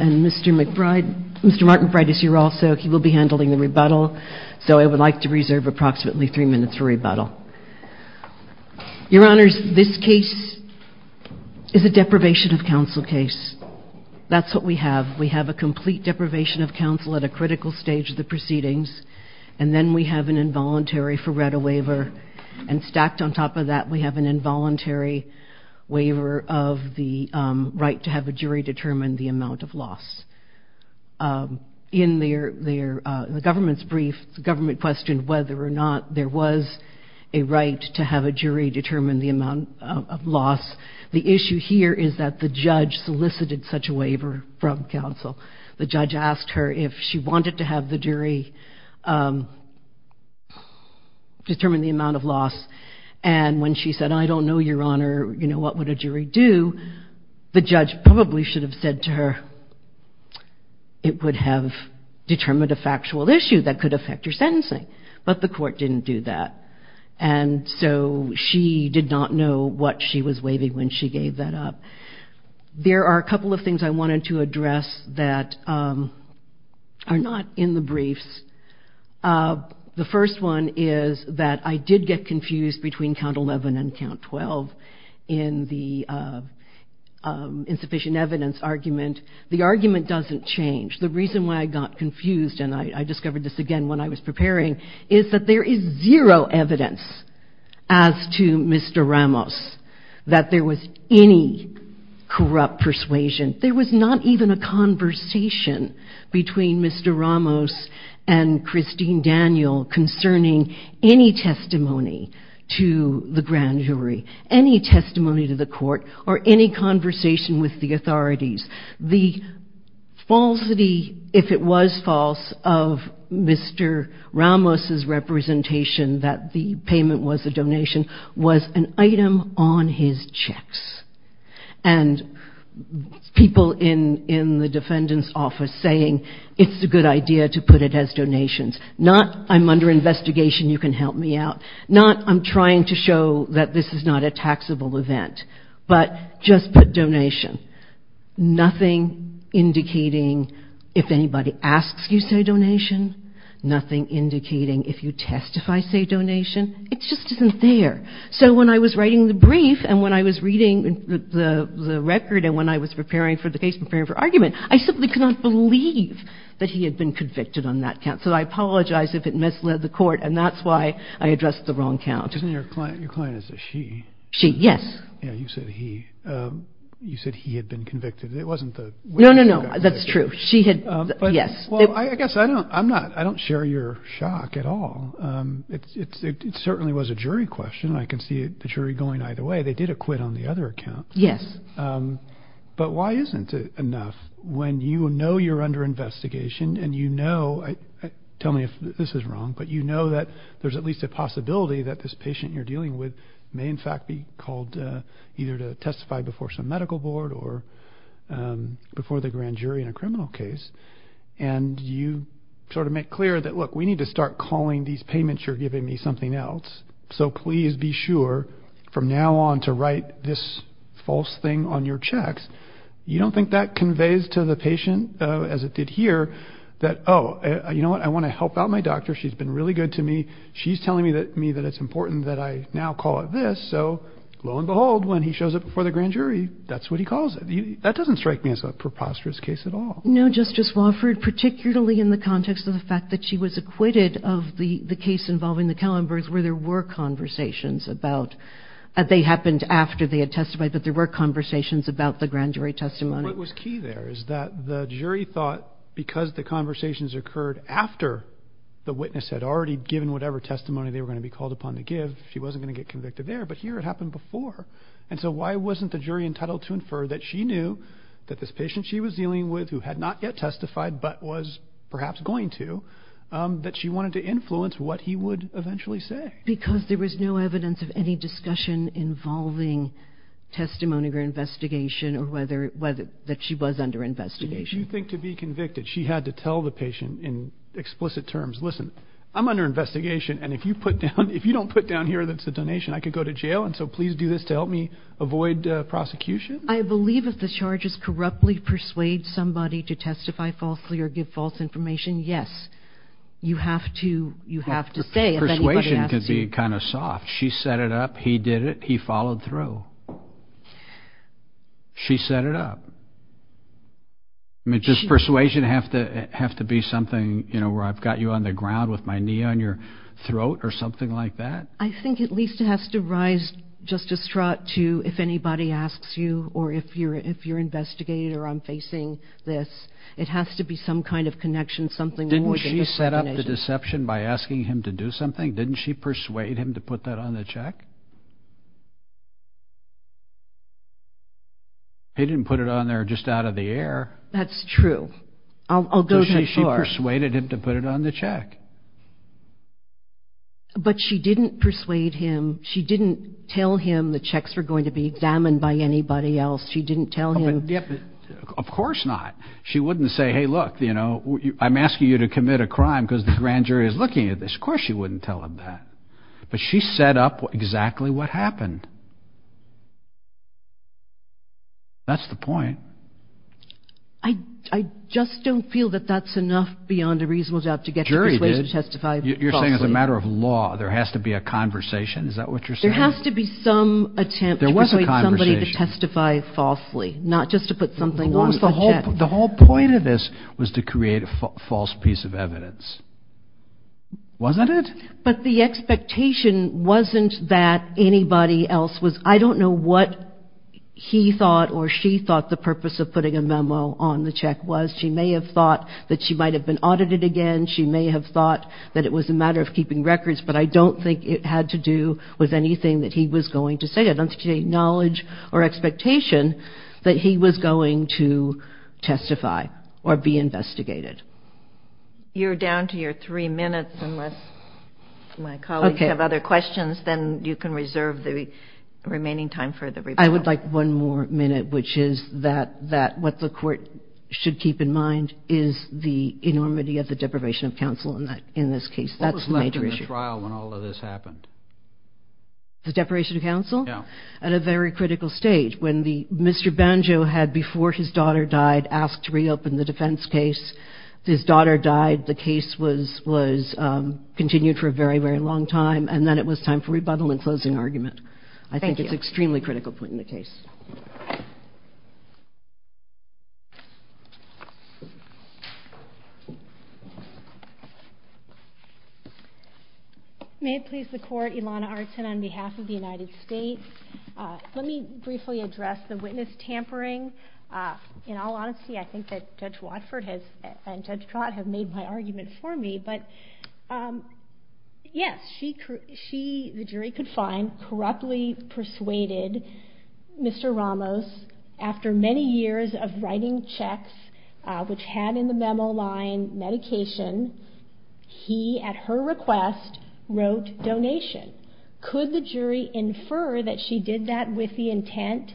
and Mr. Martin Bright is here also. He will be handling the rebuttal. So I would like to reserve approximately three minutes for rebuttal. Your Honors, this case is a deprivation of counsel case. That's what we have. We have a complete deprivation of counsel at a critical stage of the proceedings, and then we have an involuntary Feretta waiver. And stacked on top of that, we have an involuntary waiver of the right to have a jury determine the amount of loss. In the government's brief, the government questioned whether or not there was a right to have a jury determine the amount of loss. The issue here is that the judge solicited such a waiver from counsel. The determine the amount of loss. And when she said, I don't know, Your Honor, you know, what would a jury do? The judge probably should have said to her, it would have determined a factual issue that could affect your sentencing. But the court didn't do that. And so she did not know what she was waiving when she gave that up. There are a couple of things I wanted to address that are not in the briefs. The first one is that I did get confused between count 11 and count 12 in the insufficient evidence argument. The argument doesn't change. The reason why I got confused, and I discovered this again when I was preparing, is that there is zero evidence as to Mr. Ramos that there was any corrupt persuasion. There was not even a conversation between Mr. Ramos and Christine Daniel concerning any testimony to the grand jury, any testimony to the court, or any conversation with the authorities. The falsity, if it was false, of Mr. Ramos' representation that the payment was a donation was an item on his checks. And people in the defendant's office saying, it's a good idea to put it as donations. Not, I'm under investigation, you can help me out. Not, I'm trying to show that this is not a taxable event. But just put donation. Nothing indicating if anybody asks you, say donation. Nothing indicating if you testify, say donation. It just isn't there. So when I was writing the brief and when I was reading the record and when I was preparing for the case, preparing for argument, I simply could not believe that he had been convicted on that count. So I apologize if it misled the court, and that's why I addressed the wrong count. Your client is a she. She, yes. Yeah, you said he. You said he had been convicted. It wasn't the witness who got convicted. No, no, no. That's true. She had, yes. Well, I guess I don't share your shock at all. It certainly was a jury question. I can see the jury going either way. They did acquit on the other account. Yes. But why isn't it enough when you know you're under investigation and you know, tell me if this is wrong, but you know that there's at least a possibility that this patient you're dealing with may in fact be called either to testify before some medical board or before the grand jury in a criminal case. And you sort of make clear that, look, we need to start calling these payments you're giving me something else. So please be sure from now on to write this false thing on your checks. You don't think that conveys to the patient as it did here that, oh, you know what? I want to help out my doctor. She's been really good to me. She's telling me that me that it's important that I now call it this. So lo and behold, when he shows up before the grand jury, that's what he calls it. That doesn't strike me as a preposterous case at all. No, Justice Wofford, particularly in the context of the fact that she was acquitted of the case involving the Kellenbergs where there were conversations about, they happened after they had testified, but there were conversations about the grand jury testimony. What was key there is that the jury thought because the conversations occurred after the witness had already given whatever testimony they were going to be called upon to give, she wasn't going to get convicted there, but here it happened before. And so why wasn't the jury entitled to infer that she knew that this patient she was dealing with who had not yet testified, but was perhaps going to, that she wanted to influence what he would eventually say? Because there was no evidence of any discussion involving testimony or investigation or whether that she was under investigation. Do you think to be convicted, she had to tell the patient in explicit terms, listen, I'm under investigation. And if you put down, if you don't put down here, that's a donation, I could go to jail. And so please do this to help me avoid prosecution. I believe if the charges corruptly persuade somebody to testify falsely or give false information, yes, you have to, you have to say. Persuasion can be kind of soft. She set it up. He did it. He followed through. She set it up. I mean, does persuasion have to, have to be something, you know, where I've got you on the ground with my knee on your throat or something like that? I think at least it has to rise just a strut to if anybody asks you or if you're, if you're investigated or I'm facing this, it has to be some kind of connection, something more than just recognition. Didn't she set up the deception by asking him to do something? Didn't she persuade him to put that on the check? He didn't put it on there just out of the air. That's true. I'll go that far. She persuaded him to put it on the check. But she didn't persuade him. She didn't tell him the checks were going to be examined by anybody else. She didn't tell him. Of course not. She wouldn't say, hey, look, you know, I'm asking you to commit a crime because the grand jury is looking at this. Of course she wouldn't tell him that. But she set up exactly what happened. That's the point. I just don't feel that that's enough beyond a reasonable doubt to get the persuasion to testify falsely. You're saying as a matter of law, there has to be a conversation. Is that what you're saying? There has to be some attempt to persuade somebody to testify falsely, not just to put something on the check. The whole point of this was to create a false piece of evidence. Wasn't it? But the expectation wasn't that anybody else was. I don't know what he thought or she thought the purpose of putting a memo on the check was. She may have thought that she might have been audited again. She may have thought that it was a matter of keeping records. But I don't think it had to do with anything that he was going to say. I don't think there was any knowledge or expectation that he was going to testify or be investigated. You're down to your three minutes unless my colleagues have other questions, then you can reserve the remaining time for the rebuttal. I would like one more minute, which is that what the court should keep in mind is the enormity of the deprivation of counsel in this case. That's the major issue. What was left in the trial when all of this happened? The deprivation of counsel? Yeah. At a very critical stage. When Mr. Banjo had, before his daughter died, asked to reopen the defense case. His daughter died. The case was continued for a very, very long time. And then it was time for rebuttal and closing argument. Thank you. I think it's an extremely critical point in the case. May it please the Court. Ilana Artin on behalf of the United States. Let me briefly address the witness tampering. In all honesty, I think that Judge Watford and Judge Trott have made my argument for me. But yes, she, the jury could find, corruptly persuaded Mr. Ramos, after many years of writing checks, which had in the memo line medication, he, at her request, wrote donation. Could the jury infer that she did that with the intent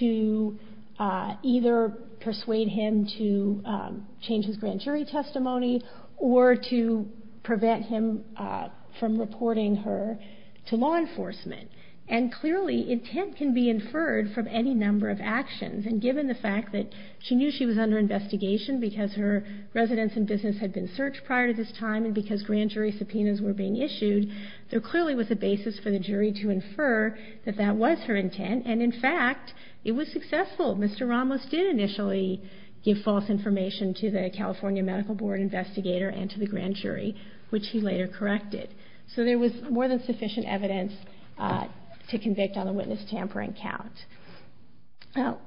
to either persuade him to change his grand jury testimony or to prevent him from reporting her to law enforcement? And clearly, intent can be inferred from any number of actions. And given the fact that she knew she was under investigation because her residence and business had been searched prior to this time and because grand jury subpoenas were being issued, there clearly was a basis for the jury to infer that that was her intent. And in fact, it was successful. Mr. Ramos did initially give false information to the California Medical Board investigator and to the grand jury, which he later corrected. So there was more than sufficient evidence to convict on the witness tampering count. Now,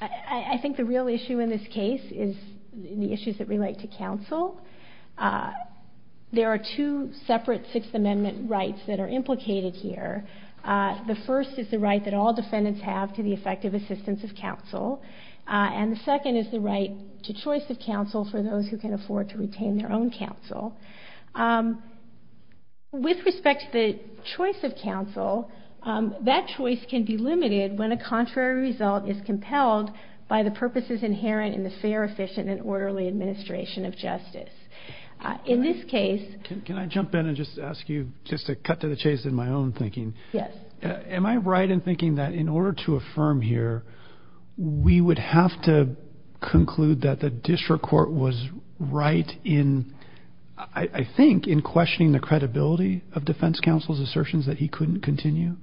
I think the real issue in this case is the issues that relate to counsel. There are two separate Sixth Amendment rights that are implicated here. The first is the right that all defendants have to the effective assistance of counsel. And the second is the right to choice of counsel for those who can afford to retain their own counsel. With respect to the choice of counsel, that choice can be limited when a contrary result is compelled by the purposes inherent in the fair, efficient, and orderly administration of justice. In this case... Can I jump in and just ask you just to cut to the chase in my own thinking? Yes. Am I right in thinking that in order to affirm here, we would have to conclude that the district court was right in, I think, in questioning the credibility of defense counsel's assertions that he couldn't continue?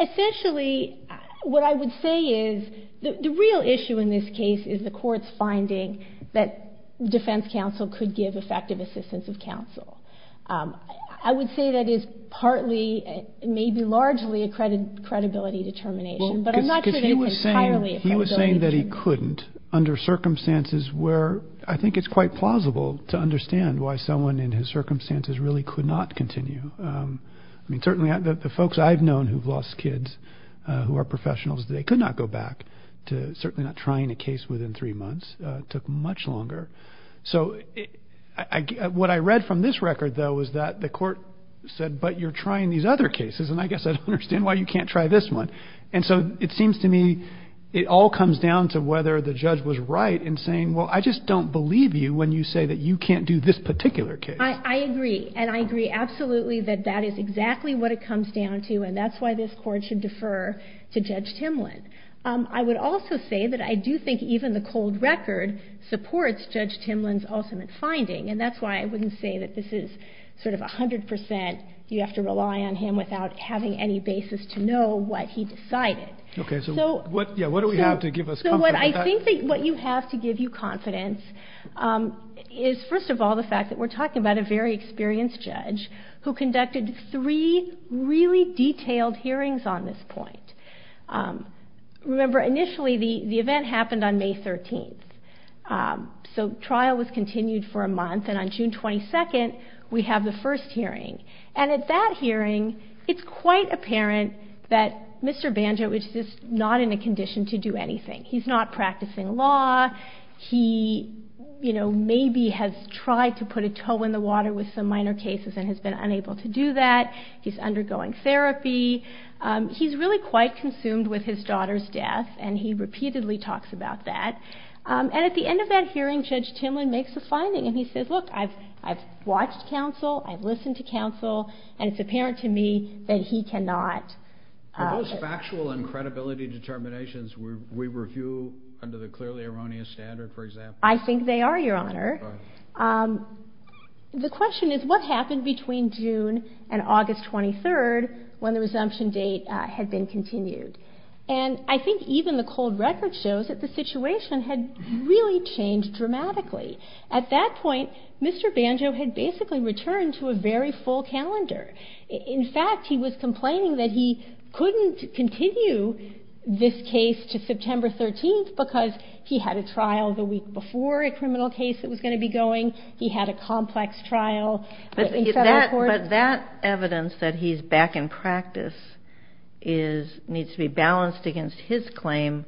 Essentially, what I would say is the real issue in this case is the court's finding that defense counsel could give effective assistance of counsel. I would say that is partly, maybe largely, a credibility determination. But I'm not saying it's entirely a credibility determination. Well, because he was saying that he couldn't under circumstances where I think it's quite plausible to understand why someone in his circumstances really could not continue. I mean, certainly the folks I've known who've lost kids who are professionals, they could not go back to certainly not trying a case within three months. It took much longer. So what I read from this record, though, is that the court said, but you're trying these other cases, and I guess I don't understand why you can't try this one. And so it seems to me it all comes down to whether the judge was right in saying, well, I just don't believe you when you say that you can't do this particular case. I agree. And I agree absolutely that that is exactly what it comes down to, and that's why this court should defer to Judge Timlin. I would also say that I do think even the cold record supports Judge Timlin's ultimate finding, and that's why I wouldn't say that this is sort of 100 percent you have to rely on him without having any basis to know what he decided. Okay. So what do we have to give us confidence? Well, I think what you have to give you confidence is, first of all, the fact that we're talking about a very experienced judge who conducted three really detailed hearings on this point. Remember, initially the event happened on May 13th, so trial was continued for a month, and on June 22nd we have the first hearing. And at that hearing it's quite apparent that Mr. Banjo is just not in a condition to do anything. He's not practicing law. He, you know, maybe has tried to put a toe in the water with some minor cases and has been unable to do that. He's undergoing therapy. He's really quite consumed with his daughter's death, and he repeatedly talks about that. And at the end of that hearing Judge Timlin makes a finding, and he says, Look, I've watched counsel, I've listened to counsel, and it's apparent to me that he cannot. Are those factual and credibility determinations we review under the clearly erroneous standard, for example? I think they are, Your Honor. The question is, what happened between June and August 23rd when the resumption date had been continued? And I think even the cold record shows that the situation had really changed dramatically. At that point, Mr. Banjo had basically returned to a very full calendar. In fact, he was complaining that he couldn't continue this case to September 13th because he had a trial the week before a criminal case that was going to be going. He had a complex trial. But that evidence that he's back in practice needs to be balanced against his claim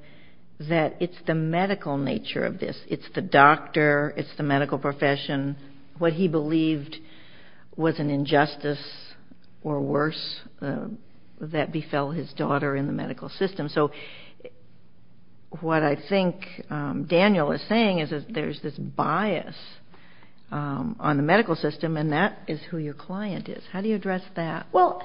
that it's the medical nature of this. It's the doctor, it's the medical profession. What he believed was an injustice or worse that befell his daughter in the medical system. So what I think Daniel is saying is that there's this bias on the medical system, and that is who your client is. How do you address that? Well,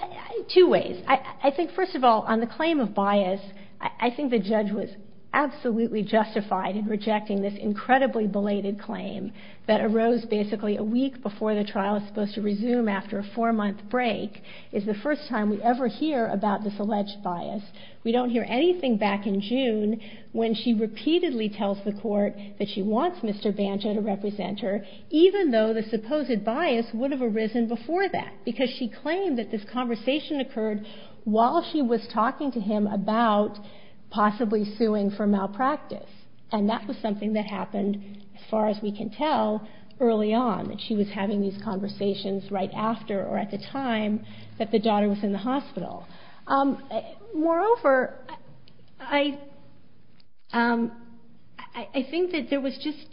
two ways. I think, first of all, on the claim of bias, I think the judge was absolutely justified in rejecting this incredibly belated claim that arose basically a week before the trial was supposed to resume after a four-month break is the first time we ever hear about this alleged bias. We don't hear anything back in June when she repeatedly tells the court that she wants Mr. Banjo to represent her, even though the supposed bias would have arisen before that because she claimed that this conversation occurred while she was talking to him about possibly suing for malpractice. And that was something that happened, as far as we can tell, early on, that she was having these conversations right after or at the time that the daughter was in the hospital. Moreover, I think that there was just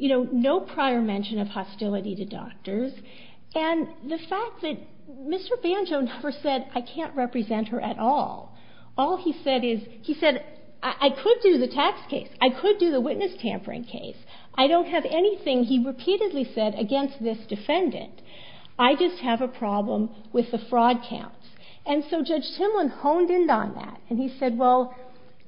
no prior mention of hostility to doctors, and the fact that Mr. Banjo never said, I can't represent her at all. All he said is, he said, I could do the tax case. I could do the witness tampering case. I don't have anything, he repeatedly said, against this defendant. I just have a problem with the fraud counts. And so Judge Timlin honed in on that, and he said, well,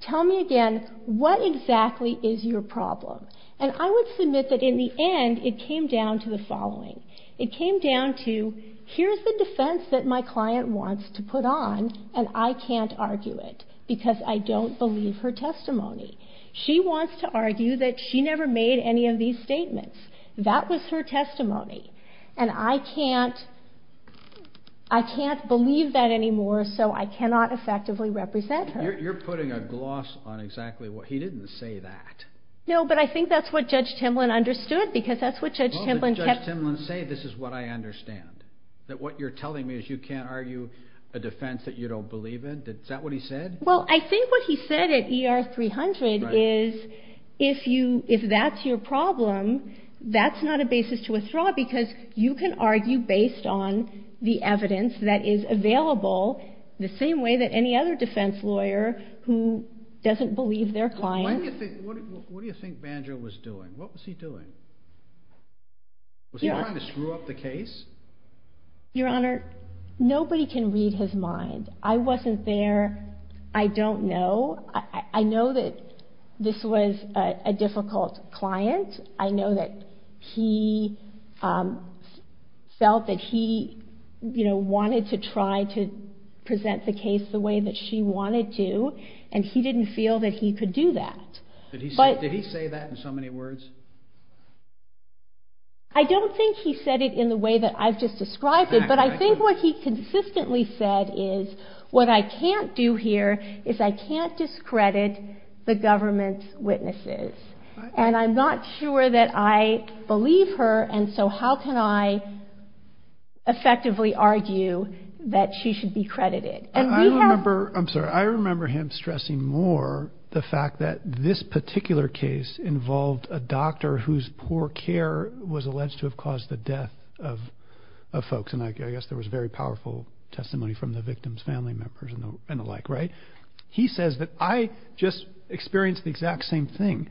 tell me again, what exactly is your problem? And I would submit that in the end, it came down to the following. It came down to, here's the defense that my client wants to put on, and I can't argue it because I don't believe her testimony. She wants to argue that she never made any of these statements. That was her testimony. And I can't believe that anymore, so I cannot effectively represent her. You're putting a gloss on exactly what he didn't say that. No, but I think that's what Judge Timlin understood because that's what Judge Timlin kept saying. He didn't say this is what I understand, that what you're telling me is you can't argue a defense that you don't believe in. Is that what he said? Well, I think what he said at ER 300 is, if that's your problem, that's not a basis to withdraw because you can argue based on the evidence that is available the same way that any other defense lawyer who doesn't believe their client. What do you think Banjo was doing? What was he doing? Was he trying to screw up the case? Your Honor, nobody can read his mind. I wasn't there. I don't know. I know that this was a difficult client. I know that he felt that he, you know, wanted to try to present the case the way that she wanted to, and he didn't feel that he could do that. Did he say that in so many words? I don't think he said it in the way that I've just described it, but I think what he consistently said is what I can't do here is I can't discredit the government's witnesses, and I'm not sure that I believe her, and so how can I effectively argue that she should be credited? I'm sorry. I remember him stressing more the fact that this particular case involved a doctor whose poor care was alleged to have caused the death of folks, and I guess there was very powerful testimony from the victim's family members and the like, right? He says that I just experienced the exact same thing,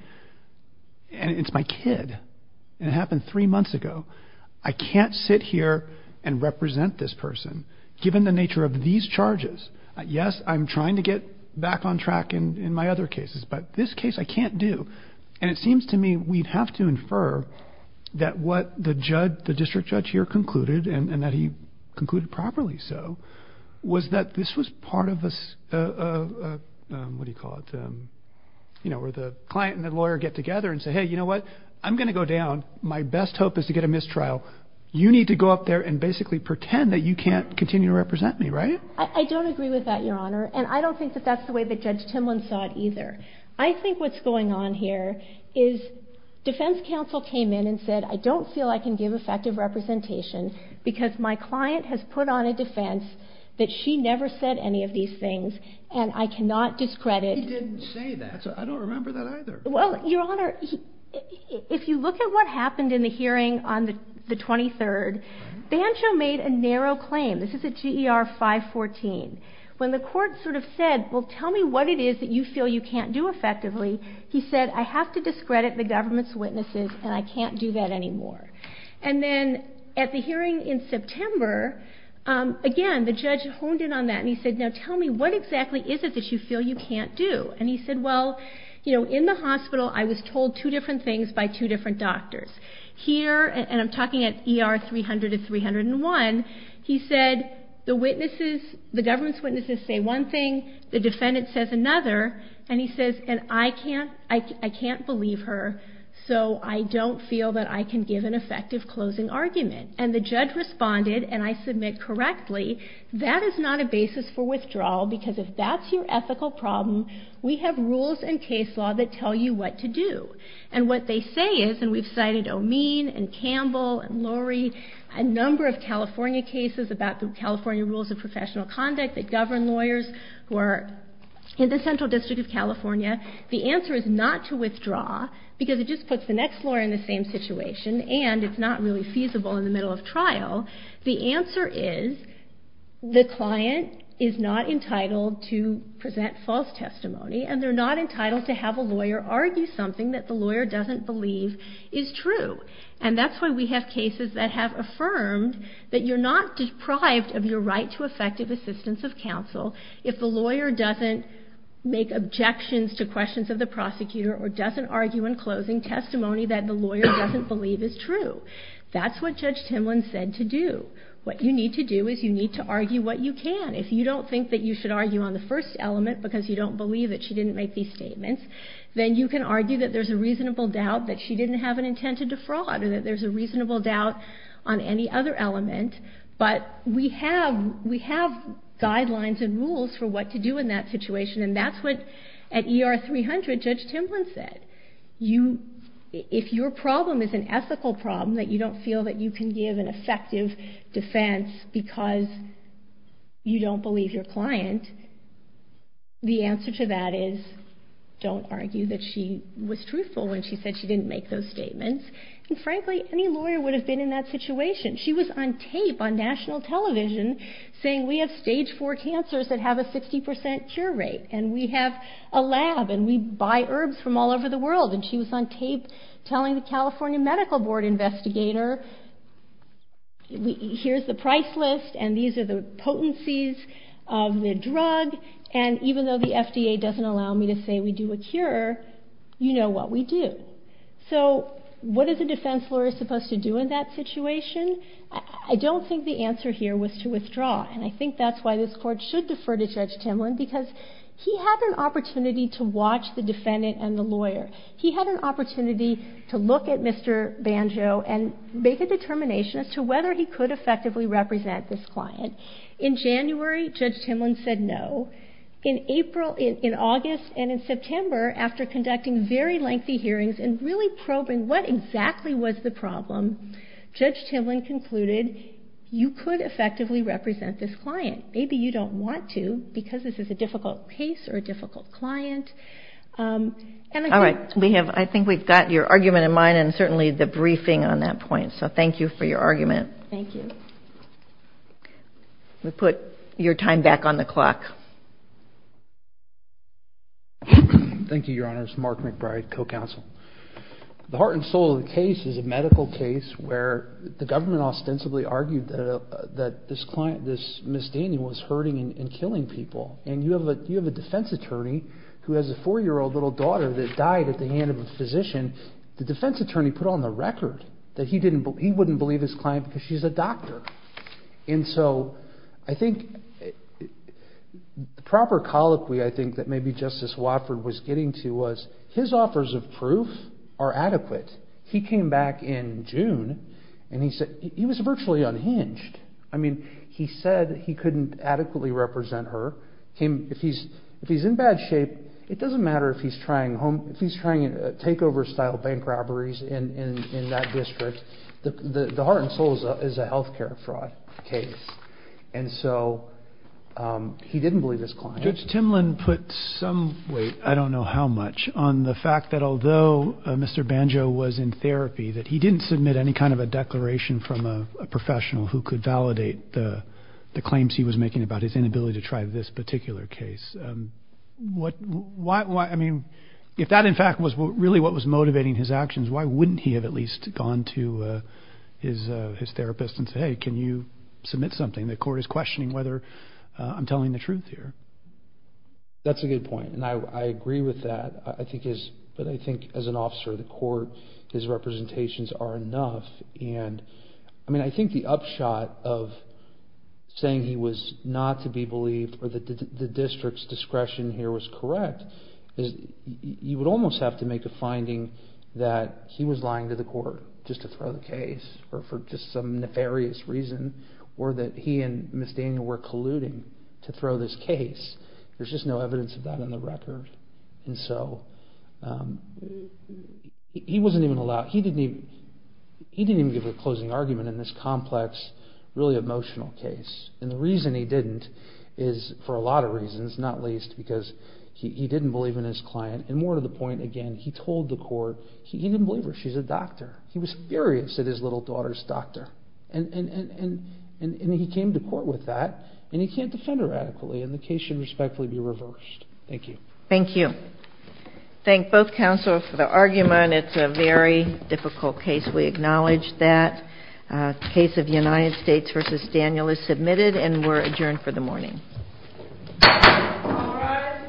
and it's my kid, and it happened three months ago. I can't sit here and represent this person. Given the nature of these charges, yes, I'm trying to get back on track in my other cases, but this case I can't do, and it seems to me we'd have to infer that what the district judge here concluded, and that he concluded properly so, was that this was part of a, what do you call it, you know, where the client and the lawyer get together and say, hey, you know what? I'm going to go down. My best hope is to get a mistrial. You need to go up there and basically pretend that you can't continue to represent me, right? I don't agree with that, Your Honor, and I don't think that that's the way that Judge Timlin saw it either. I think what's going on here is defense counsel came in and said I don't feel I can give effective representation because my client has put on a defense that she never said any of these things, and I cannot discredit. He didn't say that. I don't remember that either. Well, Your Honor, if you look at what happened in the hearing on the 23rd, Bancho made a narrow claim. This is at GER 514. When the court sort of said, well, tell me what it is that you feel you can't do effectively, he said I have to discredit the government's witnesses and I can't do that anymore. And then at the hearing in September, again, the judge honed in on that and he said, now tell me what exactly is it that you feel you can't do? And he said, well, you know, in the hospital I was told two different things by two different doctors. Here, and I'm talking at ER 300 and 301, he said the government's witnesses say one thing, the defendant says another, and he says I can't believe her, so I don't feel that I can give an effective closing argument. And the judge responded, and I submit correctly, that is not a basis for withdrawal because if that's your ethical problem, we have rules in case law that tell you what to do. And what they say is, and we've cited O'Mean and Campbell and Lurie, a number of California cases about the California rules of professional conduct that govern lawyers who are in the Central District of California. The answer is not to withdraw because it just puts the next lawyer in the same situation Well, the answer is the client is not entitled to present false testimony and they're not entitled to have a lawyer argue something that the lawyer doesn't believe is true. And that's why we have cases that have affirmed that you're not deprived of your right to effective assistance of counsel if the lawyer doesn't make objections to questions of the prosecutor or doesn't argue in closing testimony that the lawyer doesn't believe is true. That's what Judge Timlin said to do. What you need to do is you need to argue what you can. If you don't think that you should argue on the first element because you don't believe that she didn't make these statements, then you can argue that there's a reasonable doubt that she didn't have an intent to defraud or that there's a reasonable doubt on any other element. But we have guidelines and rules for what to do in that situation. And that's what, at ER 300, Judge Timlin said. If your problem is an ethical problem that you don't feel that you can give an effective defense because you don't believe your client, the answer to that is don't argue that she was truthful when she said she didn't make those statements. And frankly, any lawyer would have been in that situation. She was on tape on national television saying, We have stage four cancers that have a 60% cure rate, and we have a lab, and we buy herbs from all over the world. And she was on tape telling the California Medical Board investigator, Here's the price list, and these are the potencies of the drug, and even though the FDA doesn't allow me to say we do a cure, you know what we do. So what is a defense lawyer supposed to do in that situation? I don't think the answer here was to withdraw, and I think that's why this Court should defer to Judge Timlin because he had an opportunity to watch the defendant and the lawyer. He had an opportunity to look at Mr. Banjo and make a determination as to whether he could effectively represent this client. In January, Judge Timlin said no. In April, in August, and in September, after conducting very lengthy hearings and really probing what exactly was the problem, Judge Timlin concluded you could effectively represent this client. Maybe you don't want to because this is a difficult case or a difficult client. All right. I think we've got your argument in mind and certainly the briefing on that point, so thank you for your argument. Thank you. We'll put your time back on the clock. Thank you, Your Honors. Mark McBride, co-counsel. The heart and soul of the case is a medical case where the government ostensibly argued that this misdemeanor was hurting and killing people, and you have a defense attorney who has a four-year-old little daughter that died at the hand of a physician. The defense attorney put on the record that he wouldn't believe his client because she's a doctor. And so I think the proper colloquy I think that maybe Justice Watford was getting to was his offers of proof are adequate. He came back in June and he was virtually unhinged. I mean, he said he couldn't adequately represent her. If he's in bad shape, it doesn't matter if he's trying takeover-style bank robberies in that district. The heart and soul is a health care fraud case. And so he didn't believe his client. Judge Timlin put some weight, I don't know how much, on the fact that although Mr. Banjo was in therapy, that he didn't submit any kind of a declaration from a professional who could validate the claims he was making about his inability to try this particular case. I mean, if that in fact was really what was motivating his actions, why wouldn't he have at least gone to his therapist and said, hey, can you submit something? The court is questioning whether I'm telling the truth here. That's a good point, and I agree with that. But I think as an officer of the court, his representations are enough. I mean, I think the upshot of saying he was not to be believed or that the district's discretion here was correct is you would almost have to make a finding that he was lying to the court just to throw the or that he and Ms. Daniel were colluding to throw this case. There's just no evidence of that on the record. And so he didn't even give a closing argument in this complex, really emotional case. And the reason he didn't is for a lot of reasons, not least because he didn't believe in his client. And more to the point, again, he told the court he didn't believe her. She's a doctor. He was furious at his little daughter's doctor. And he came to court with that, and he can't defend her adequately, and the case should respectfully be reversed. Thank you. Thank you. Thank both counsel for the argument. It's a very difficult case. We acknowledge that. The case of United States v. Daniel is submitted, and we're adjourned for the morning. All rise.